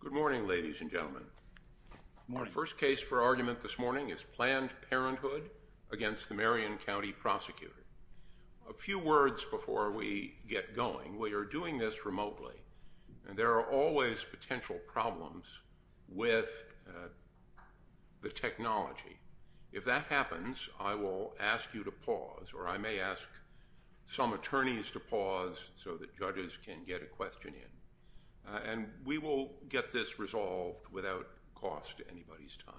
Good morning, ladies and gentlemen. Our first case for argument this morning is Planned Parenthood against the Marion County Prosecutor. A few words before we get going. We are doing this remotely, and there are always potential problems with the technology. If that happens, I will ask you to pause, or I may ask some attorneys to pause so that judges can get a question in. And we will get this resolved without cost to anybody's time.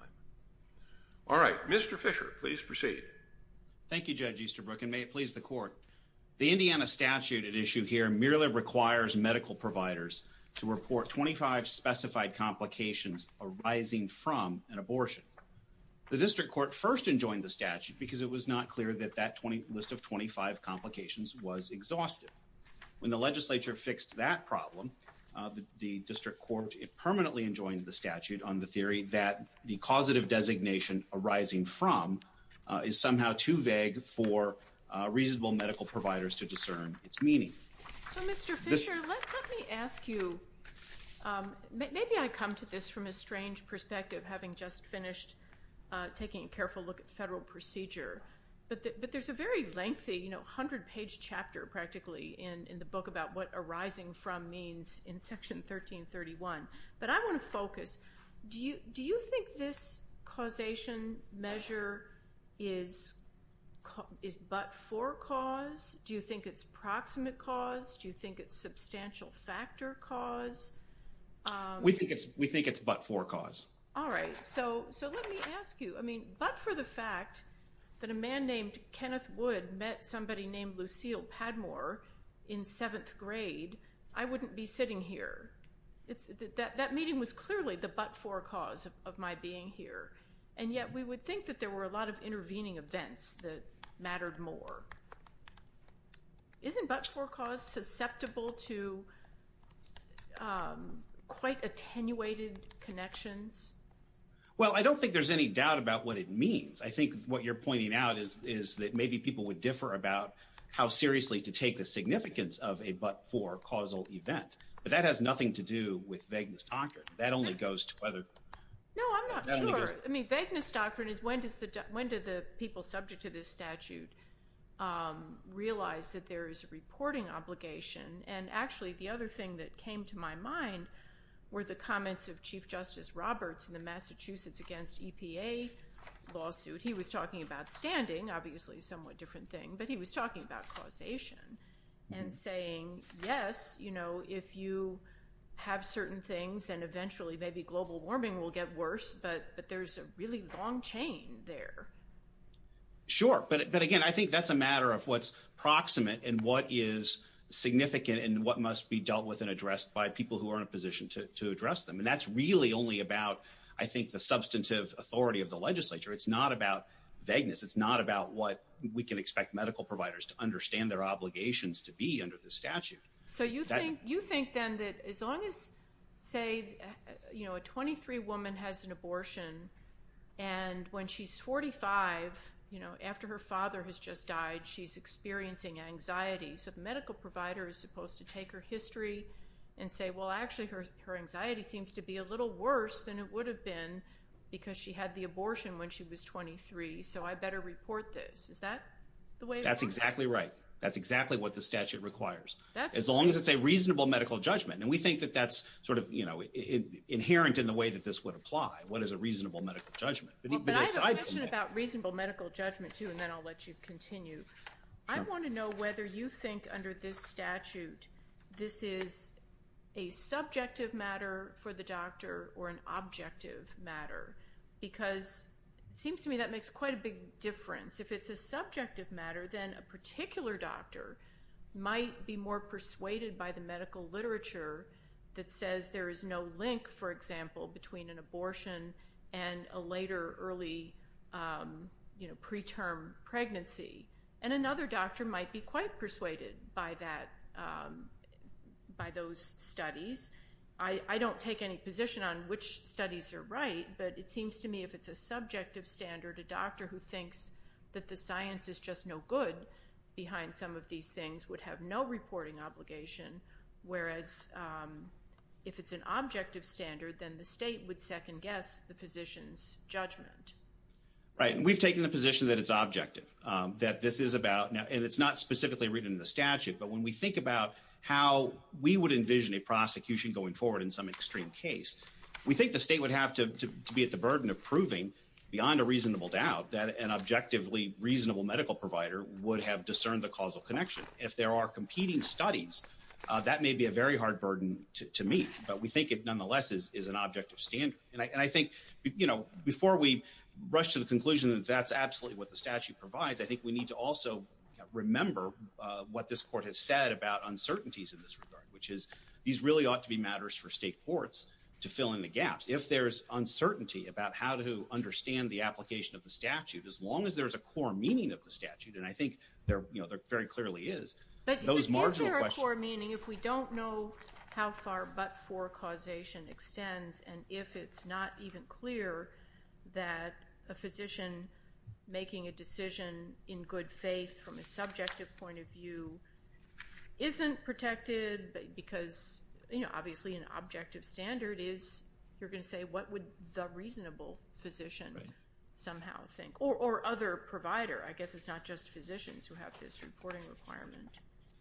All right, Mr. Fisher, please proceed. Thank you, Judge Easterbrook, and may it please the court. The Indiana statute at issue here merely requires medical providers to report 25 specified complications arising from an abortion. The district court first enjoined the statute because it was not clear that that list of 25 complications was exhausted. When the legislature fixed that problem, the district court permanently enjoined the statute on the theory that the causative designation arising from is somehow too vague for reasonable medical providers to discern its meaning. Mr. Fisher, let me ask you, maybe I come to this from a strange perspective, having just finished taking a careful look at federal procedure. But there's a very lengthy 100-page chapter practically in the book about what arising from means in Section 1331. But I want to focus. Do you think this causation measure is but for cause? Do you think it's proximate cause? Do you think it's substantial factor cause? We think it's but for cause. All right, so let me ask you. I mean, but for the fact that a man named Kenneth Wood met somebody named Lucille Padmore in seventh grade, I wouldn't be sitting here. That meeting was clearly the but for cause of my being here. And yet we would think that there were a lot of intervening events that mattered more. Isn't but for cause susceptible to quite attenuated connections? Well, I don't think there's any doubt about what it means. I think what you're pointing out is that maybe people would differ about how seriously to take the significance of a but for causal event. But that has nothing to do with vagueness doctrine. That only goes to whether— No, I'm not sure. I mean, vagueness doctrine is when did the people subject to this statute realize that there is a reporting obligation? And actually, the other thing that came to my mind were the comments of Chief Justice Roberts in the Massachusetts against EPA lawsuit. He was talking about standing, obviously a somewhat different thing, but he was talking about causation and saying, yes, you know, if you have certain things, then eventually maybe global warming will get worse, but there's a really long chain there. Sure, but again, I think that's a matter of what's proximate and what is significant and what must be dealt with and addressed by people who are in a position to address them. And that's really only about, I think, the substantive authority of the legislature. It's not about vagueness. It's not about what we can expect medical providers to understand their obligations to be under the statute. So you think then that as long as, say, you know, a 23 woman has an abortion and when she's 45, you know, after her father has just died, she's experiencing anxiety. So the medical provider is supposed to take her history and say, well, actually her anxiety seems to be a little worse than it would have been because she had the abortion when she was 23, so I better report this. Is that the way— That's exactly right. That's exactly what the statute requires. That's— As long as it's a reasonable medical judgment, and we think that that's sort of, you know, inherent in the way that this would apply. What is a reasonable medical judgment? Well, but I have a question about reasonable medical judgment, too, and then I'll let you continue. Sure. I want to know whether you think under this statute this is a subjective matter for the doctor or an objective matter because it seems to me that makes quite a big difference. If it's a subjective matter, then a particular doctor might be more persuaded by the medical literature that says there is no link, for example, between an abortion and a later early, you know, preterm pregnancy. And another doctor might be quite persuaded by that—by those studies. I don't take any position on which studies are right, but it seems to me if it's a subjective standard, a doctor who thinks that the science is just no good behind some of these things would have no reporting obligation, whereas if it's an objective standard, then the state would second-guess the physician's judgment. Right, and we've taken the position that it's objective, that this is about—and it's not specifically written in the statute, but when we think about how we would envision a prosecution going forward in some extreme case, we think the state would have to be at the burden of proving beyond a reasonable doubt that an objectively reasonable medical provider would have discerned the causal connection. If there are competing studies, that may be a very hard burden to meet, but we think it nonetheless is an objective standard. And I think, you know, before we rush to the conclusion that that's absolutely what the statute provides, I think we need to also remember what this court has said about uncertainties in this regard, which is these really ought to be matters for state courts to fill in the gaps. If there's uncertainty about how to understand the application of the statute, as long as there's a core meaning of the statute, and I think there very clearly is, those marginal questions— You're going to say, what would the reasonable physician somehow think? Or other provider. I guess it's not just physicians who have this reporting requirement.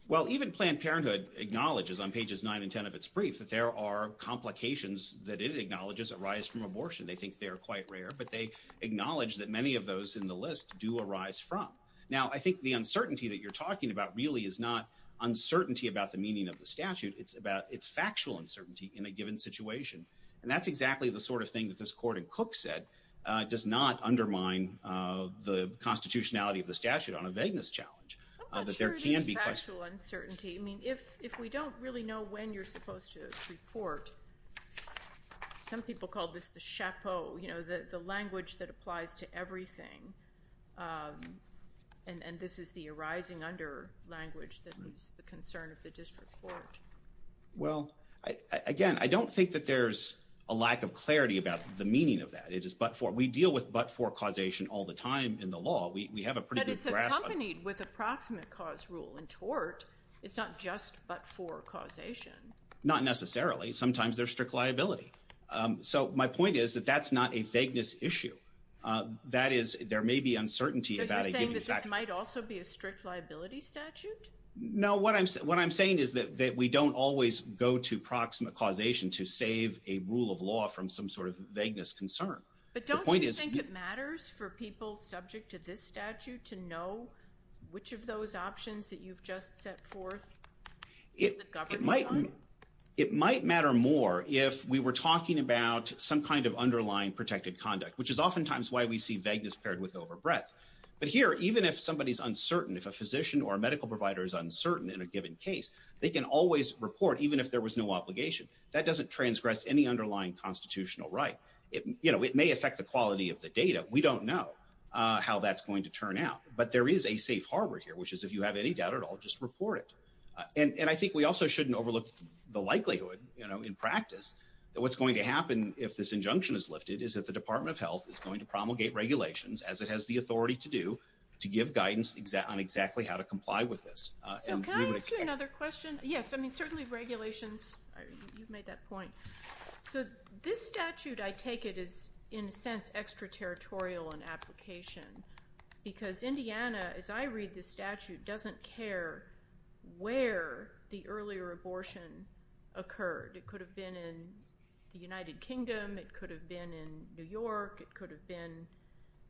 Well, even Planned Parenthood acknowledges on pages 9 and 10 of its brief that there are complications that it acknowledges arise from abortion. They think they're quite rare, but they acknowledge that many of those in the list do arise from. Now, I think the uncertainty that you're talking about really is not uncertainty about the meaning of the statute. It's factual uncertainty in a given situation, and that's exactly the sort of thing that this court in Cook said does not undermine the constitutionality of the statute on a vagueness challenge. I'm not sure it is factual uncertainty. I mean, if we don't really know when you're supposed to report, some people call this the chapeau, you know, the language that applies to everything. And this is the arising under language that is the concern of the district court. Well, again, I don't think that there's a lack of clarity about the meaning of that. It is but-for. We deal with but-for causation all the time in the law. We have a pretty good grasp on it. But it's accompanied with approximate cause rule in tort. It's not just but-for causation. Not necessarily. Sometimes there's strict liability. So my point is that that's not a vagueness issue. That is, there may be uncertainty about a given fact. So you're saying that this might also be a strict liability statute? No, what I'm saying is that we don't always go to proximate causation to save a rule of law from some sort of vagueness concern. But don't you think it matters for people subject to this statute to know which of those options that you've just set forth is the government one? It might matter more if we were talking about some kind of underlying protected conduct, which is oftentimes why we see vagueness paired with overbreadth. But here, even if somebody is uncertain, if a physician or a medical provider is uncertain in a given case, they can always report even if there was no obligation. That doesn't transgress any underlying constitutional right. It may affect the quality of the data. We don't know how that's going to turn out. But there is a safe harbor here, which is if you have any doubt at all, just report it. And I think we also shouldn't overlook the likelihood, you know, in practice, that what's going to happen if this injunction is lifted is that the Department of Health is going to promulgate regulations, as it has the authority to do, to give guidance on exactly how to comply with this. Can I ask you another question? Yes, I mean, certainly regulations, you've made that point. So this statute, I take it, is in a sense extraterritorial in application, because Indiana, as I read this statute, doesn't care where the earlier abortion occurred. It could have been in the United Kingdom. It could have been in New York. It could have been,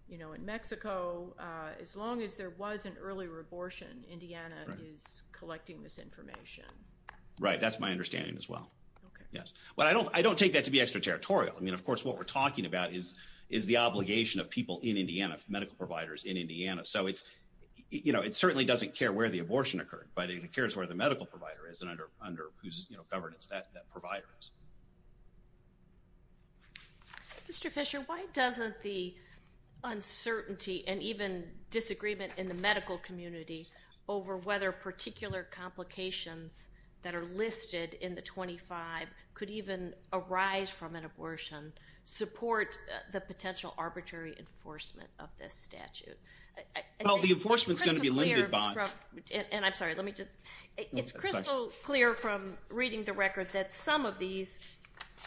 you know, in Mexico. As long as there was an earlier abortion, Indiana is collecting this information. Right. That's my understanding as well. Yes. But I don't take that to be extraterritorial. I mean, of course, what we're talking about is the obligation of people in Indiana, medical providers in Indiana. So it's, you know, it certainly doesn't care where the abortion occurred, but it cares where the medical provider is and under whose governance that provider is. Mr. Fisher, why doesn't the uncertainty and even disagreement in the medical community over whether particular complications that are listed in the 25 could even arise from an abortion, support the potential arbitrary enforcement of this statute? Well, the enforcement is going to be limited by- And I'm sorry, let me just- It's crystal clear from reading the record that some of these,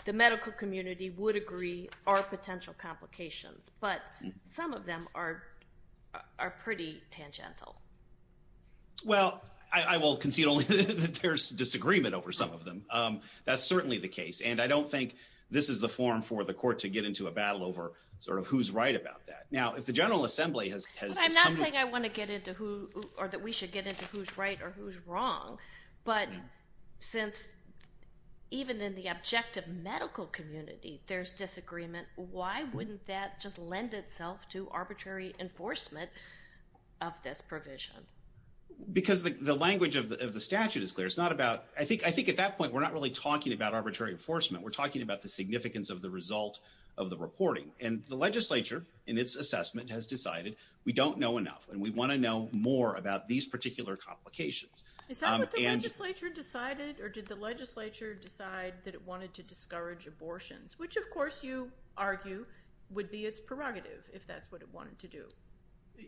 the medical community would agree, are potential complications, but some of them are pretty tangential. Well, I will concede only that there's disagreement over some of them. That's certainly the case, and I don't think this is the forum for the court to get into a battle over sort of who's right about that. Now, if the General Assembly has- I'm not saying I want to get into who or that we should get into who's right or who's wrong, but since even in the objective medical community, there's disagreement, why wouldn't that just lend itself to arbitrary enforcement of this provision? Because the language of the statute is clear. It's not about- I think at that point, we're not really talking about arbitrary enforcement. We're talking about the significance of the result of the reporting, and the legislature in its assessment has decided we don't know enough, and we want to know more about these particular complications. Is that what the legislature decided, or did the legislature decide that it wanted to discourage abortions, which of course you argue would be its prerogative if that's what it wanted to do?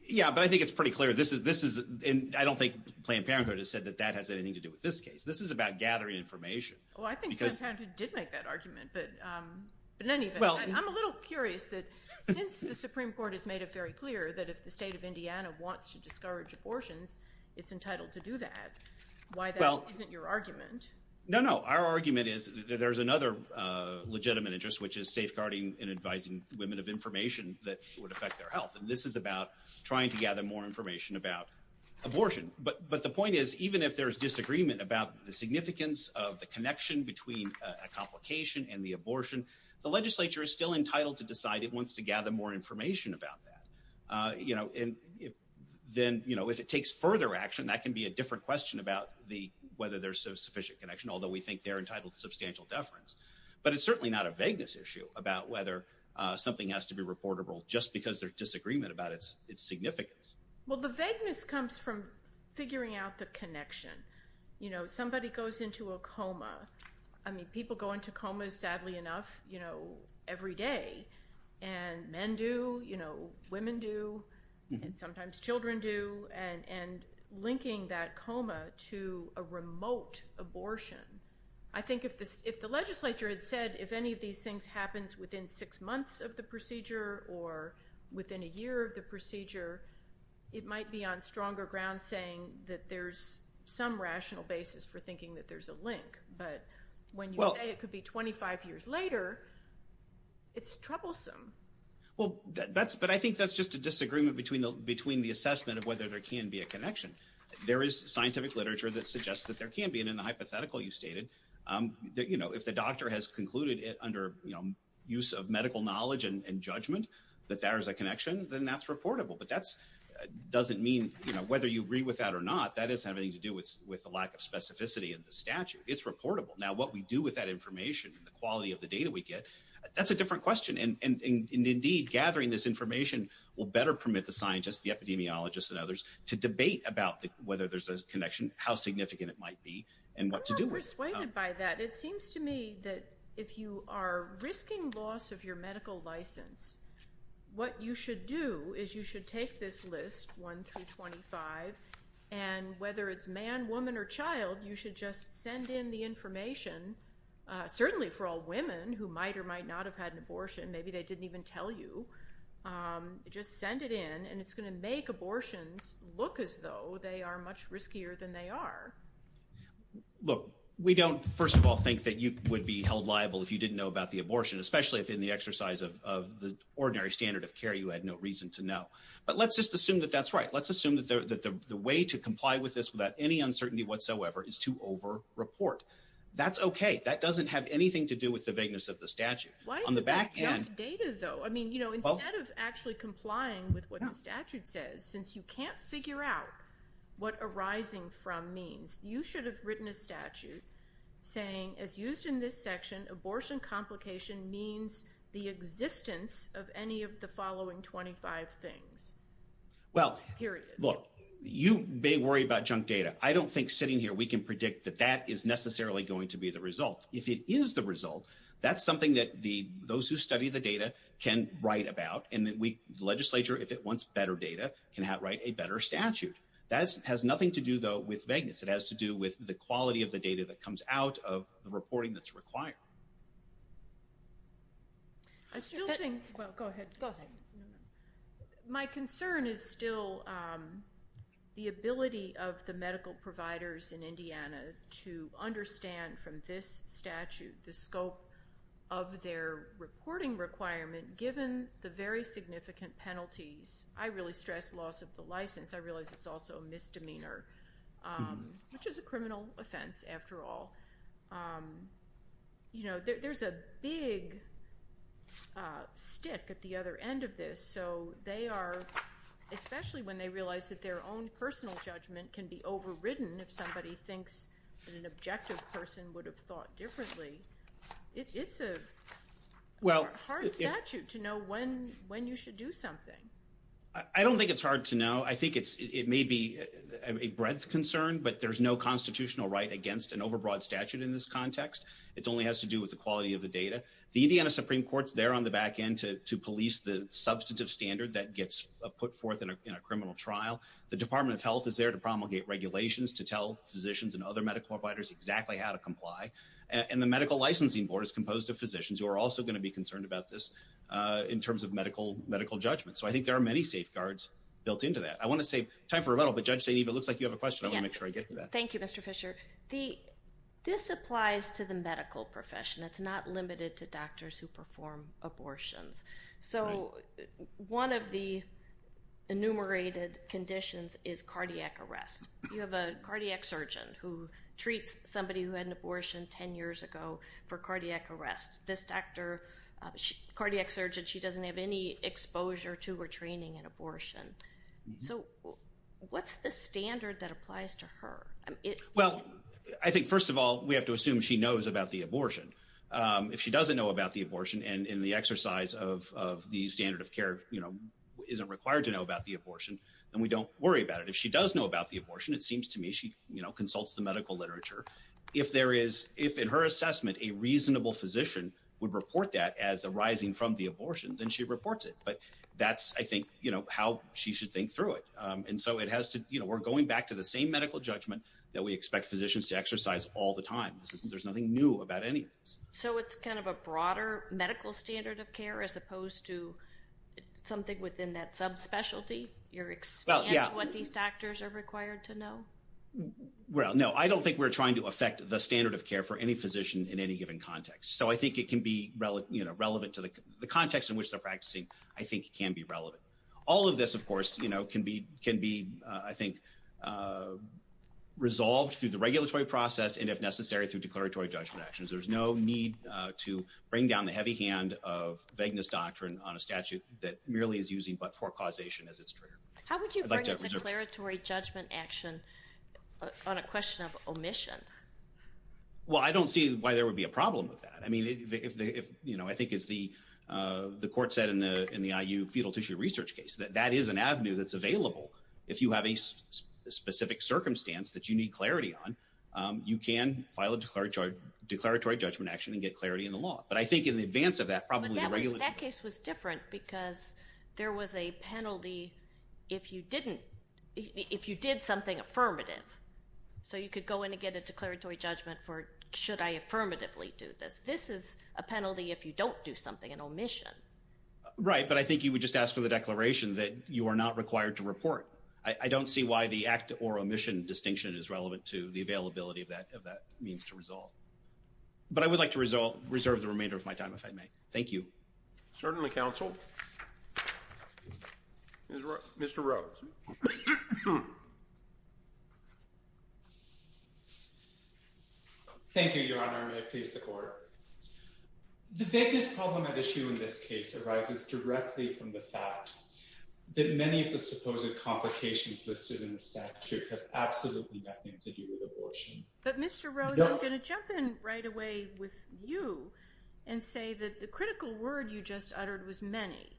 Yeah, but I think it's pretty clear. I don't think Planned Parenthood has said that that has anything to do with this case. This is about gathering information. Well, I think Planned Parenthood did make that argument, but in any event, I'm a little curious that since the Supreme Court has made it very clear that if the state of Indiana wants to discourage abortions, it's entitled to do that, why that isn't your argument. No, no. Our argument is that there's another legitimate interest, which is safeguarding and advising women of information that would affect their health, and this is about trying to gather more information about abortion. But the point is, even if there's disagreement about the significance of the connection between a complication and the abortion, the legislature is still entitled to decide it wants to gather more information about that. Then if it takes further action, that can be a different question about whether there's a sufficient connection, although we think they're entitled to substantial deference. But it's certainly not a vagueness issue about whether something has to be reportable just because there's disagreement about its significance. Well, the vagueness comes from figuring out the connection. Somebody goes into a coma. I mean, people go into comas, sadly enough, every day, and men do, women do, and sometimes children do, and linking that coma to a remote abortion. I think if the legislature had said if any of these things happens within six months of the procedure or within a year of the procedure, it might be on stronger ground saying that there's some rational basis for thinking that there's a link. But when you say it could be 25 years later, it's troublesome. Well, but I think that's just a disagreement between the assessment of whether there can be a connection. There is scientific literature that suggests that there can be, and in the hypothetical you stated, if the doctor has concluded under use of medical knowledge and judgment that there is a connection, then that's reportable. But that doesn't mean whether you agree with that or not, that doesn't have anything to do with the lack of specificity in the statute. It's reportable. Now, what we do with that information and the quality of the data we get, that's a different question. And indeed, gathering this information will better permit the scientists, the epidemiologists, and others to debate about whether there's a connection, how significant it might be, and what to do with it. I'm persuaded by that. It seems to me that if you are risking loss of your medical license, what you should do is you should take this list, 1 through 25, and whether it's man, woman, or child, you should just send in the information, certainly for all women who might or might not have had an abortion, maybe they didn't even tell you, just send it in, and it's going to make abortions look as though they are much riskier than they are. Look, we don't, first of all, think that you would be held liable if you didn't know about the abortion, especially if in the exercise of the ordinary standard of care you had no reason to know. But let's just assume that that's right. Let's assume that the way to comply with this without any uncertainty whatsoever is to over-report. That's okay. That doesn't have anything to do with the vagueness of the statute. On the back end— Why is it junk data, though? I mean, you know, instead of actually complying with what the statute says, since you can't figure out what arising from means, you should have written a statute saying, as used in this section, abortion complication means the existence of any of the following 25 things, period. Well, look, you may worry about junk data. I don't think sitting here we can predict that that is necessarily going to be the result. If it is the result, that's something that those who study the data can write about, and the legislature, if it wants better data, can write a better statute. That has nothing to do, though, with vagueness. It has to do with the quality of the data that comes out of the reporting that's required. I still think— Well, go ahead. Go ahead. My concern is still the ability of the medical providers in Indiana to understand, from this statute, the scope of their reporting requirement, given the very significant penalties. I really stress loss of the license. I realize it's also a misdemeanor, which is a criminal offense, after all. You know, there's a big stick at the other end of this, so they are— especially when they realize that their own personal judgment can be overridden if somebody thinks that an objective person would have thought differently. It's a hard statute to know when you should do something. I don't think it's hard to know. I think it may be a breadth concern, but there's no constitutional right against an overbroad statute in this context. It only has to do with the quality of the data. The Indiana Supreme Court is there on the back end to police the substantive standard that gets put forth in a criminal trial. The Department of Health is there to promulgate regulations, to tell physicians and other medical providers exactly how to comply. And the Medical Licensing Board is composed of physicians who are also going to be concerned about this in terms of medical judgment. So I think there are many safeguards built into that. I want to save time for a little, but Judge Saineev, it looks like you have a question. I want to make sure I get to that. Thank you, Mr. Fisher. This applies to the medical profession. It's not limited to doctors who perform abortions. So one of the enumerated conditions is cardiac arrest. You have a cardiac surgeon who treats somebody who had an abortion 10 years ago for cardiac arrest. This doctor, cardiac surgeon, she doesn't have any exposure to or training in abortion. So what's the standard that applies to her? Well, I think, first of all, we have to assume she knows about the abortion. If she doesn't know about the abortion and the exercise of the standard of care isn't required to know about the abortion, then we don't worry about it. If she does know about the abortion, it seems to me she consults the medical literature. If in her assessment a reasonable physician would report that as arising from the abortion, then she reports it. But that's, I think, how she should think through it. And so we're going back to the same medical judgment that we expect physicians to exercise all the time. There's nothing new about any of this. So it's kind of a broader medical standard of care as opposed to something within that subspecialty? You're expanding what these doctors are required to know? Well, no, I don't think we're trying to affect the standard of care for any physician in any given context. So I think it can be relevant to the context in which they're practicing. I think it can be relevant. All of this, of course, can be, I think, resolved through the regulatory process and, if necessary, through declaratory judgment actions. There's no need to bring down the heavy hand of vagueness doctrine on a statute that merely is using but-for causation as its trigger. How would you bring up a declaratory judgment action on a question of omission? Well, I don't see why there would be a problem with that. I mean, I think, as the court said in the IU fetal tissue research case, that that is an avenue that's available. If you have a specific circumstance that you need clarity on, you can file a declaratory judgment action and get clarity in the law. That case was different because there was a penalty if you did something affirmative. So you could go in and get a declaratory judgment for should I affirmatively do this. This is a penalty if you don't do something, an omission. Right, but I think you would just ask for the declaration that you are not required to report. I don't see why the act or omission distinction is relevant to the availability of that means to resolve. But I would like to reserve the remainder of my time, if I may. Thank you. Certainly, counsel. Mr. Rose. Thank you, Your Honor. May it please the court. The biggest problem at issue in this case arises directly from the fact that many of the supposed complications listed in the statute have absolutely nothing to do with abortion. But Mr. Rose, I'm going to jump in right away with you and say that the critical word you just uttered was many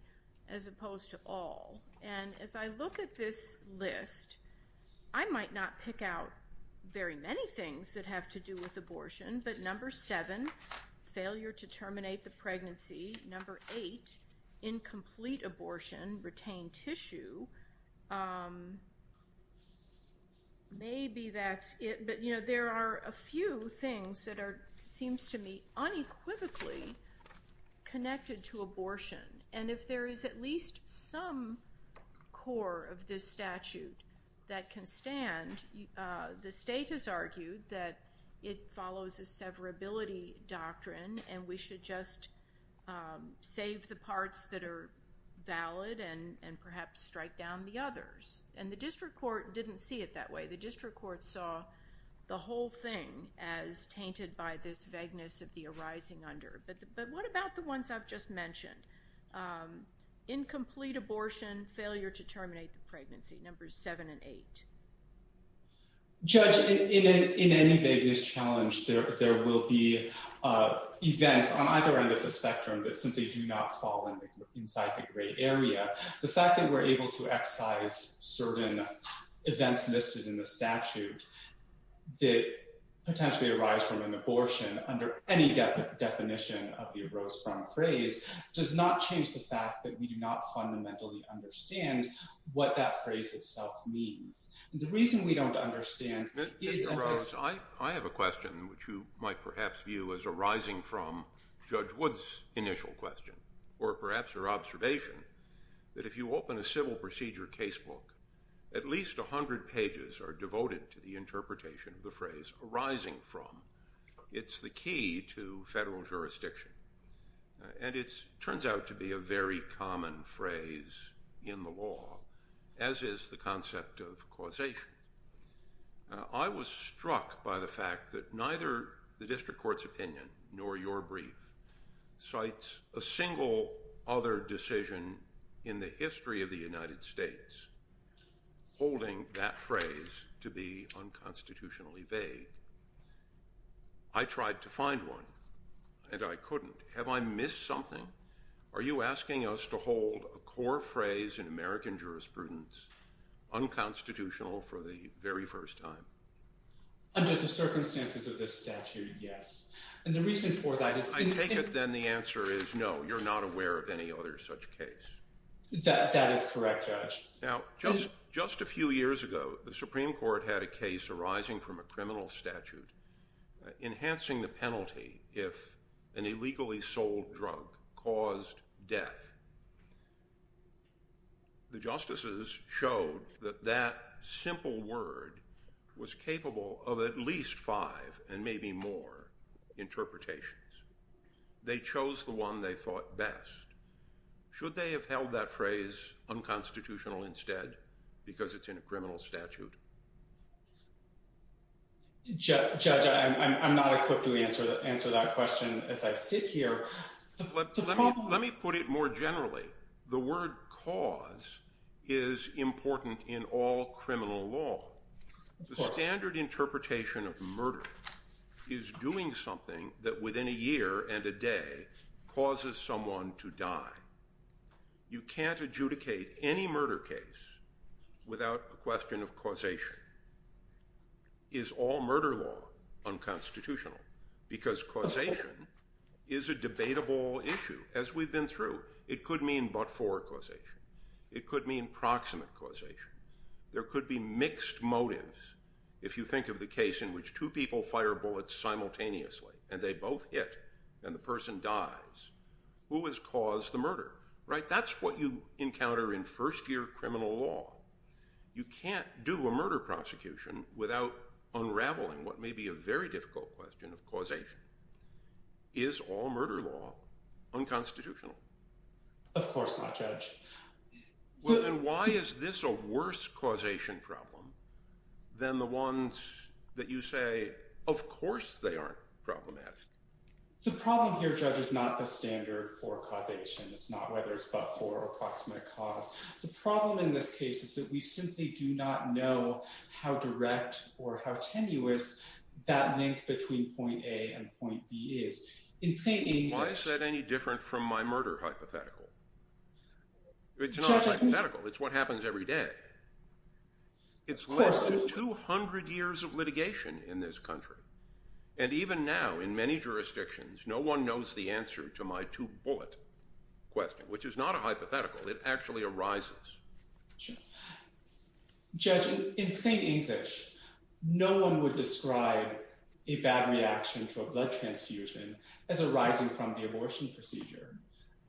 as opposed to all. And as I look at this list, I might not pick out very many things that have to do with abortion. But number seven, failure to terminate the pregnancy. Number eight, incomplete abortion, retained tissue. Maybe that's it. But there are a few things that seem to me unequivocally connected to abortion. And if there is at least some core of this statute that can stand, the state has argued that it follows a severability doctrine and we should just save the parts that are valid and perhaps strike down the others. And the district court didn't see it that way. The district court saw the whole thing as tainted by this vagueness of the arising under. But what about the ones I've just mentioned? Incomplete abortion, failure to terminate the pregnancy. Numbers seven and eight. Judge, in any vagueness challenge, there will be events on either end of the spectrum that simply do not fall inside the gray area. The fact that we're able to excise certain events listed in the statute that potentially arise from an abortion under any definition of the arose from phrase does not change the fact that we do not fundamentally understand what that phrase itself means. The reason we don't understand is... Mr. Rhodes, I have a question which you might perhaps view as arising from Judge Wood's initial question or perhaps your observation that if you open a civil procedure casebook, at least 100 pages are devoted to the interpretation of the phrase arising from. It's the key to federal jurisdiction. And it turns out to be a very common phrase in the law, as is the concept of causation. I was struck by the fact that neither the district court's opinion nor your brief cites a single other decision in the history of the United States holding that phrase to be unconstitutionally vague. I tried to find one, and I couldn't. Have I missed something? Are you asking us to hold a core phrase in American jurisprudence unconstitutional for the very first time? Under the circumstances of this statute, yes. And the reason for that is... I take it then the answer is no, you're not aware of any other such case. That is correct, Judge. Now, just a few years ago, the Supreme Court had a case arising from a criminal statute enhancing the penalty if an illegally sold drug caused death. The justices showed that that simple word was capable of at least five and maybe more interpretations. They chose the one they thought best. Should they have held that phrase unconstitutional instead because it's in a criminal statute? Judge, I'm not equipped to answer that question as I sit here. Let me put it more generally. The word cause is important in all criminal law. The standard interpretation of murder is doing something that within a year and a day causes someone to die. You can't adjudicate any murder case without a question of causation. Is all murder law unconstitutional? Because causation is a debatable issue. As we've been through, it could mean but-for causation. It could mean proximate causation. There could be mixed motives. If you think of the case in which two people fire bullets simultaneously and they both hit and the person dies, who has caused the murder? That's what you encounter in first-year criminal law. You can't do a murder prosecution without unraveling what may be a very difficult question of causation. Is all murder law unconstitutional? Of course not, Judge. Why is this a worse causation problem than the ones that you say, of course they aren't problematic? The problem here, Judge, is not the standard for causation. It's not whether it's but-for or approximate cause. The problem in this case is that we simply do not know how direct or how tenuous that link between point A and point B is. Why is that any different from my murder hypothetical? It's not a hypothetical. It's what happens every day. It's less than 200 years of litigation in this country, and even now in many jurisdictions, no one knows the answer to my two-bullet question, which is not a hypothetical. It actually arises. Judge, in plain English, no one would describe a bad reaction to a blood transfusion as arising from the abortion procedure.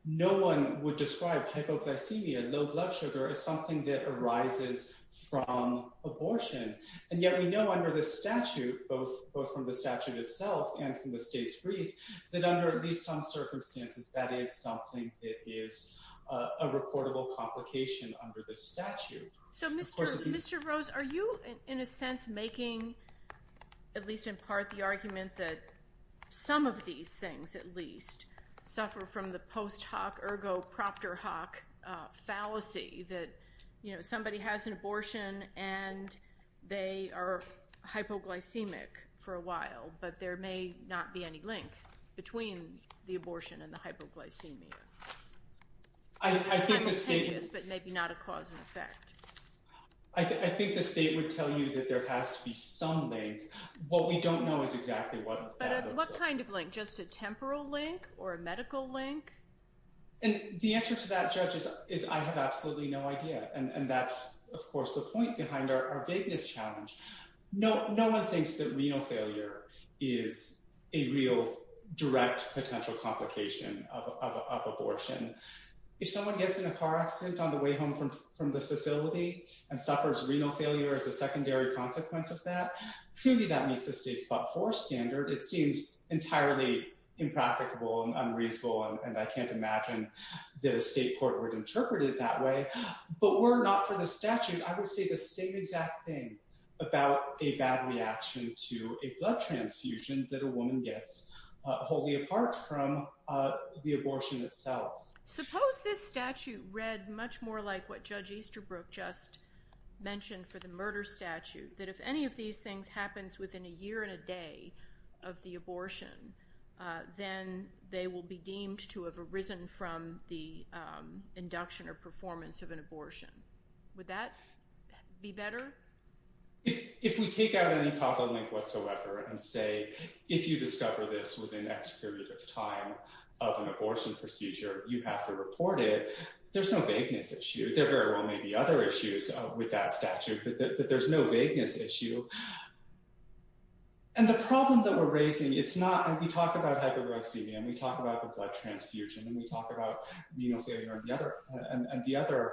No one would describe hypoglycemia, low blood sugar, as something that arises from abortion. And yet we know under the statute, both from the statute itself and from the state's brief, that under at least some circumstances, that is something that is a reportable complication under the statute. So, Mr. Rose, are you, in a sense, making, at least in part, the argument that some of these things, at least, suffer from the post hoc ergo proctor hoc fallacy that, you know, somebody has an abortion and they are hypoglycemic for a while, but there may not be any link between the abortion and the hypoglycemia? I think the state would tell you that there has to be some link. What we don't know is exactly what that looks like. Do you believe, like, just a temporal link or a medical link? And the answer to that, Judge, is I have absolutely no idea. And that's, of course, the point behind our vagueness challenge. No one thinks that renal failure is a real direct potential complication of abortion. If someone gets in a car accident on the way home from the facility and suffers renal failure as a secondary consequence of that, truly that meets the state's Part 4 standard. It seems entirely impracticable and unreasonable, and I can't imagine that a state court would interpret it that way. But were it not for the statute, I would say the same exact thing about a bad reaction to a blood transfusion that a woman gets wholly apart from the abortion itself. Suppose this statute read much more like what Judge Easterbrook just mentioned for the murder statute, that if any of these things happens within a year and a day of the abortion, then they will be deemed to have arisen from the induction or performance of an abortion. Would that be better? If we take out any causal link whatsoever and say, if you discover this within X period of time of an abortion procedure, you have to report it, there's no vagueness issue. There very well may be other issues with that statute, but there's no vagueness issue. And the problem that we're raising, it's not, and we talk about hyperglycemia and we talk about the blood transfusion and we talk about renal failure and the other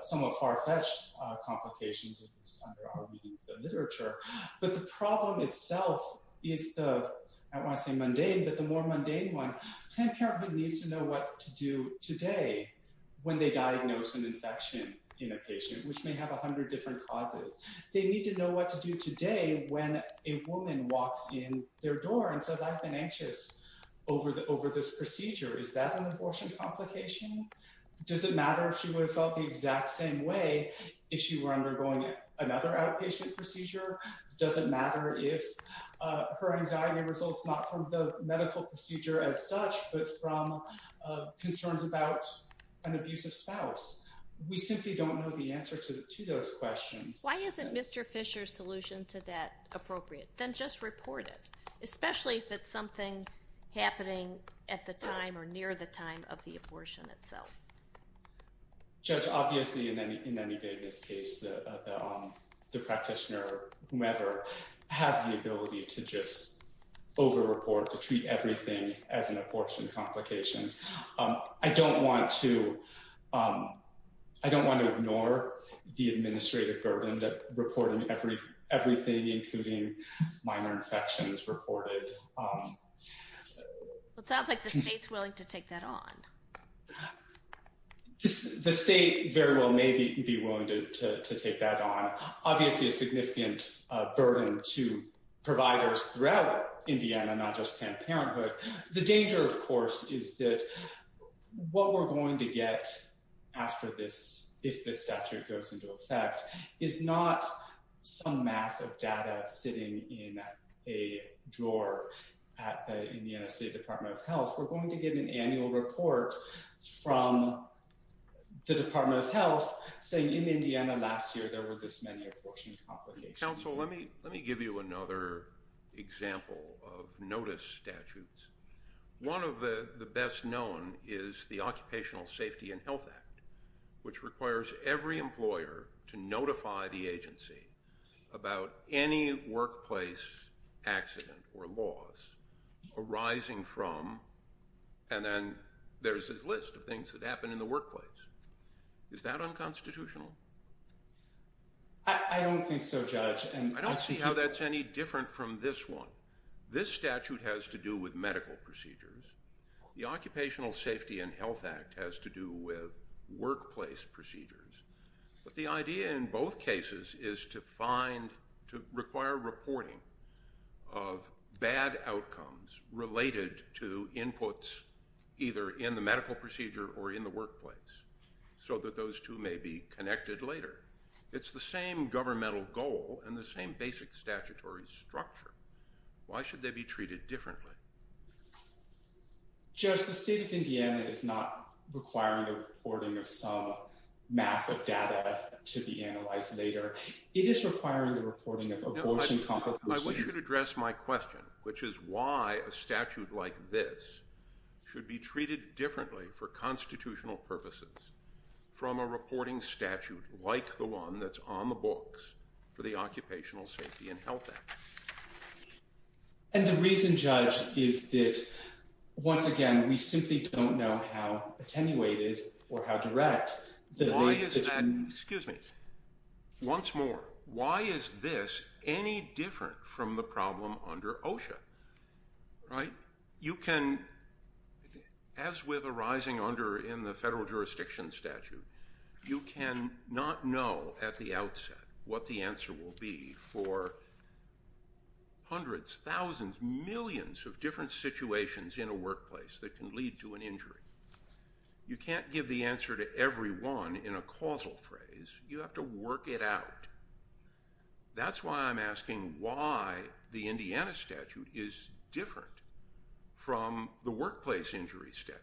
somewhat far-fetched complications of this under our readings of literature, but the problem itself is the, I don't want to say mundane, but the more mundane one, Planned Parenthood needs to know what to do today when they diagnose an infection in a patient, which may have a hundred different causes. They need to know what to do today when a woman walks in their door and says, I've been anxious over this procedure. Is that an abortion complication? Does it matter if she would have felt the exact same way if she were undergoing another outpatient procedure? Does it matter if her anxiety results not from the medical procedure as such, but from concerns about an abusive spouse? We simply don't know the answer to those questions. Why isn't Mr. Fisher's solution to that appropriate? Then just report it, especially if it's something happening at the time or near the time of the abortion itself. Judge, obviously in any case, the practitioner, whomever, has the ability to just over-report, to treat everything as an abortion complication. I don't want to ignore the administrative burden that reporting everything, including minor infections, reported. It sounds like the state's willing to take that on. The state very well may be willing to take that on. Obviously a significant burden to providers throughout Indiana, not just Planned Parenthood. The danger, of course, is that what we're going to get after this, if this statute goes into effect, is not some mass of data sitting in a drawer at the Indiana State Department of Health. We're going to get an annual report from the Department of Health saying in Indiana last year there were this many abortion complications. Counsel, let me give you another example of notice statutes. One of the best known is the Occupational Safety and Health Act, which requires every employer to notify the agency about any workplace accident or loss arising from, and then there's this list of things that happen in the workplace. Is that unconstitutional? I don't think so, Judge. I don't see how that's any different from this one. This statute has to do with medical procedures. The Occupational Safety and Health Act has to do with workplace procedures. But the idea in both cases is to require reporting of bad outcomes related to inputs either in the medical procedure or in the workplace so that those two may be connected later. It's the same governmental goal and the same basic statutory structure. Why should they be treated differently? Judge, the state of Indiana is not requiring the reporting of some massive data to be analyzed later. It is requiring the reporting of abortion complications. I wish you could address my question, which is why a statute like this should be treated differently for constitutional purposes from a reporting statute like the one that's on the books for the Occupational Safety and Health Act? And the reason, Judge, is that, once again, we simply don't know how attenuated or how direct the— Why is that—excuse me. Once more, why is this any different from the problem under OSHA? Right? You can—as with arising under in the federal jurisdiction statute, you can not know at the outset what the answer will be for hundreds, thousands, millions of different situations in a workplace that can lead to an injury. You can't give the answer to every one in a causal phrase. You have to work it out. That's why I'm asking why the Indiana statute is different from the workplace injury statute.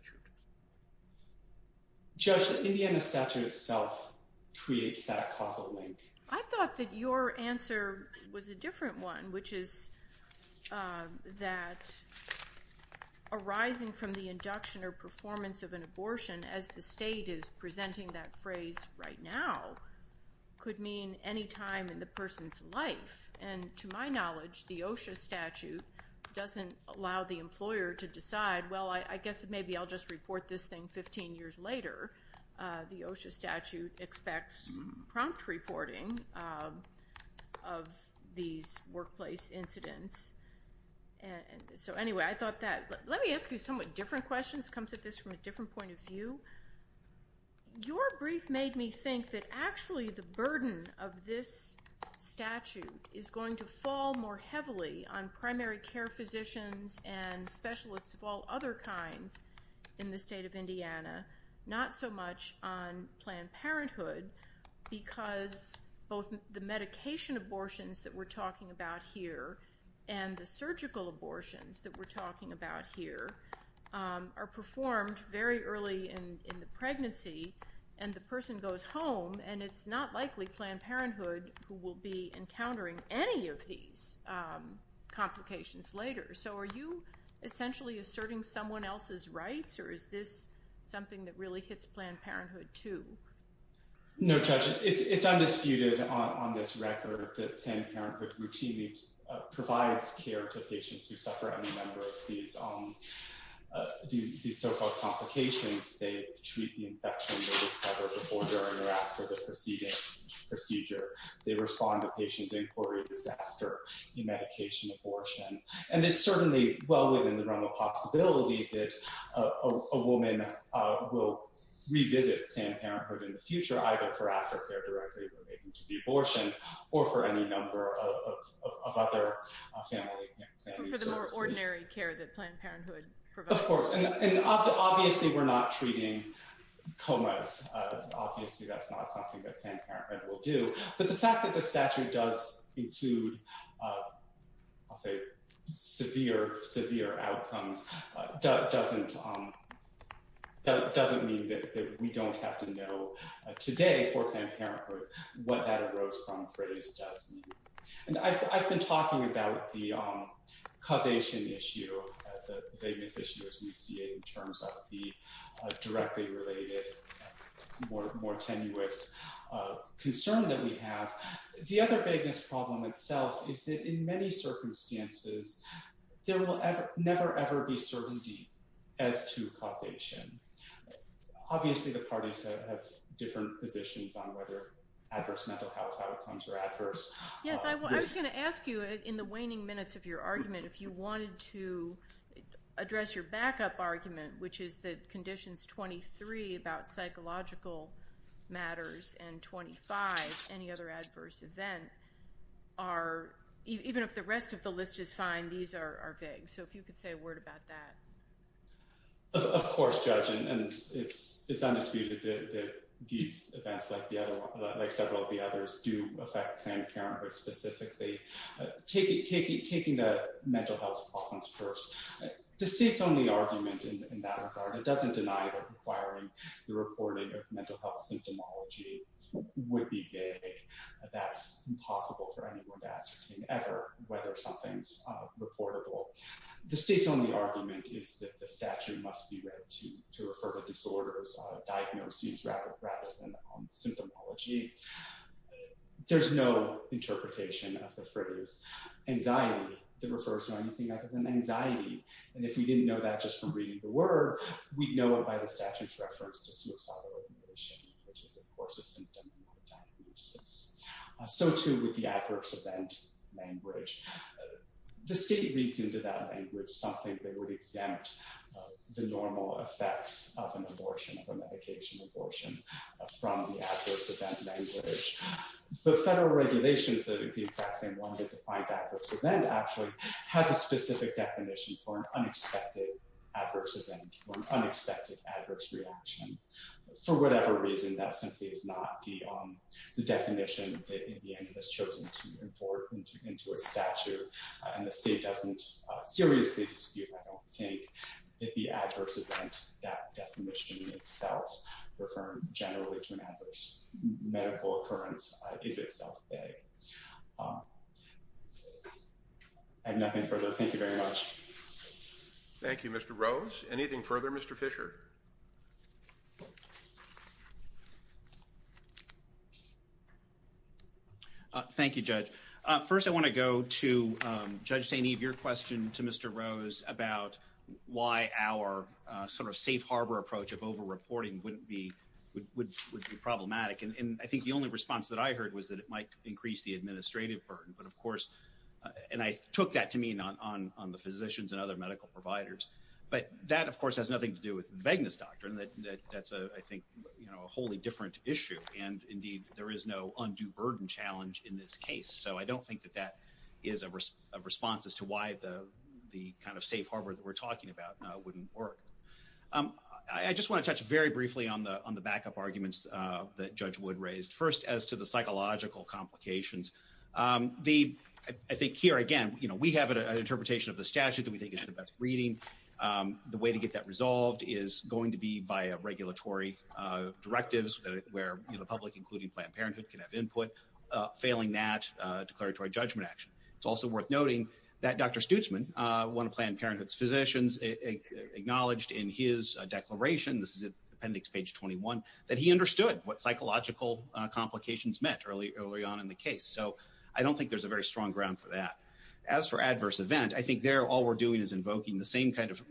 Judge, the Indiana statute itself creates that causal link. I thought that your answer was a different one, which is that arising from the induction or performance of an abortion, as the state is presenting that phrase right now, could mean any time in the person's life. And to my knowledge, the OSHA statute doesn't allow the employer to decide, well, I guess maybe I'll just report this thing 15 years later. The OSHA statute expects prompt reporting of these workplace incidents. So anyway, I thought that—let me ask you somewhat different questions. It comes at this from a different point of view. Your brief made me think that actually the burden of this statute is going to fall more heavily on primary care physicians and specialists of all other kinds in the state of Indiana, not so much on Planned Parenthood, because both the medication abortions that we're talking about here and the surgical abortions that we're talking about here are performed very early in the pregnancy, and the person goes home, and it's not likely Planned Parenthood will be encountering any of these complications later. So are you essentially asserting someone else's rights, or is this something that really hits Planned Parenthood too? No, Judge, it's undisputed on this record that Planned Parenthood routinely provides care to patients who suffer any number of these so-called complications. They treat the infection they discover before, during, or after the preceding procedure. They respond to patient inquiries after the medication abortion, and it's certainly well within the realm of possibility that a woman will revisit Planned Parenthood in the future, either for aftercare directly related to the abortion or for any number of other family services. For the more ordinary care that Planned Parenthood provides. Of course, and obviously we're not treating comas. Obviously that's not something that Planned Parenthood will do, but the fact that the statute does include, I'll say, severe, severe outcomes doesn't mean that we don't have to know today for Planned Parenthood what that arose from phrase does mean. And I've been talking about the causation issue, the vagueness issue as we see it in terms of the directly related, more tenuous concern that we have. The other vagueness problem itself is that in many circumstances there will never ever be certainty as to causation. Obviously the parties have different positions on whether adverse mental health outcomes are adverse. Yes, I was going to ask you, in the waning minutes of your argument, if you wanted to address your backup argument, which is that Conditions 23 about psychological matters and 25, any other adverse event, even if the rest of the list is fine, these are vague. So if you could say a word about that. Of course, Judge, and it's undisputed that these events, like several of the others, do affect Planned Parenthood specifically. Taking the mental health problems first, the state's only argument in that regard, it doesn't deny that requiring the reporting of mental health symptomology would be vague. That's impossible for anyone to ascertain ever whether something's reportable. The state's only argument is that the statute must be read to refer to disorders, diagnoses rather than symptomology. There's no interpretation of the phrase anxiety that refers to anything other than anxiety. And if we didn't know that just from reading the word, we'd know it by the statute's reference to suicidal regulation, which is, of course, a symptom of a diagnosis. So, too, with the adverse event language, the state reads into that language something that would exempt the normal effects of an abortion, of a medication abortion, from the adverse event language. The federal regulations, the exact same one that defines adverse event, actually, has a specific definition for an unexpected adverse event, or an unexpected adverse reaction. For whatever reason, that simply is not the definition that Indiana has chosen to import into its statute, and the state doesn't seriously dispute, I don't think, that the adverse event, that definition itself, referring generally to an adverse medical occurrence is itself vague. I have nothing further. Thank you very much. Thank you, Mr. Rose. Anything further, Mr. Fisher? Thank you, Judge. First, I want to go to Judge St. Eve, your question to Mr. Rose about why our sort of safe harbor approach of over-reporting would be problematic. And I think the only response that I heard was that it might increase the administrative burden. But, of course, and I took that to mean on the physicians and other medical providers. But that, of course, has nothing to do with the vagueness doctrine. That's, I think, a wholly different issue. And, indeed, there is no undue burden challenge in this case. So I don't think that that is a response as to why the kind of safe harbor that we're talking about wouldn't work. I just want to touch very briefly on the backup arguments that Judge Wood raised. First, as to the psychological complications, I think here, again, we have an interpretation of the statute that we think is the best reading. The way to get that resolved is going to be via regulatory directives where the public, including Planned Parenthood, can have input, failing that declaratory judgment action. It's also worth noting that Dr. Stutzman, one of Planned Parenthood's physicians, acknowledged in his declaration, this is appendix page 21, that he understood what psychological complications meant early on in the case. So I don't think there's a very strong ground for that. As for adverse event, I think there all we're doing is invoking the same kind of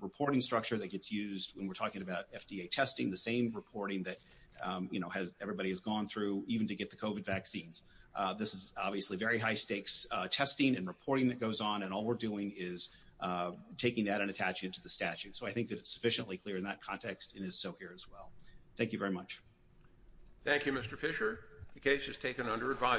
reporting structure that gets used when we're talking about FDA testing, the same reporting that everybody has gone through even to get the COVID vaccines. This is obviously very high stakes testing and reporting that goes on, and all we're doing is taking that and attaching it to the statute. So I think that it's sufficiently clear in that context and is so here as well. Thank you very much. Thank you, Mr. Fisher. The case is taken under advisory.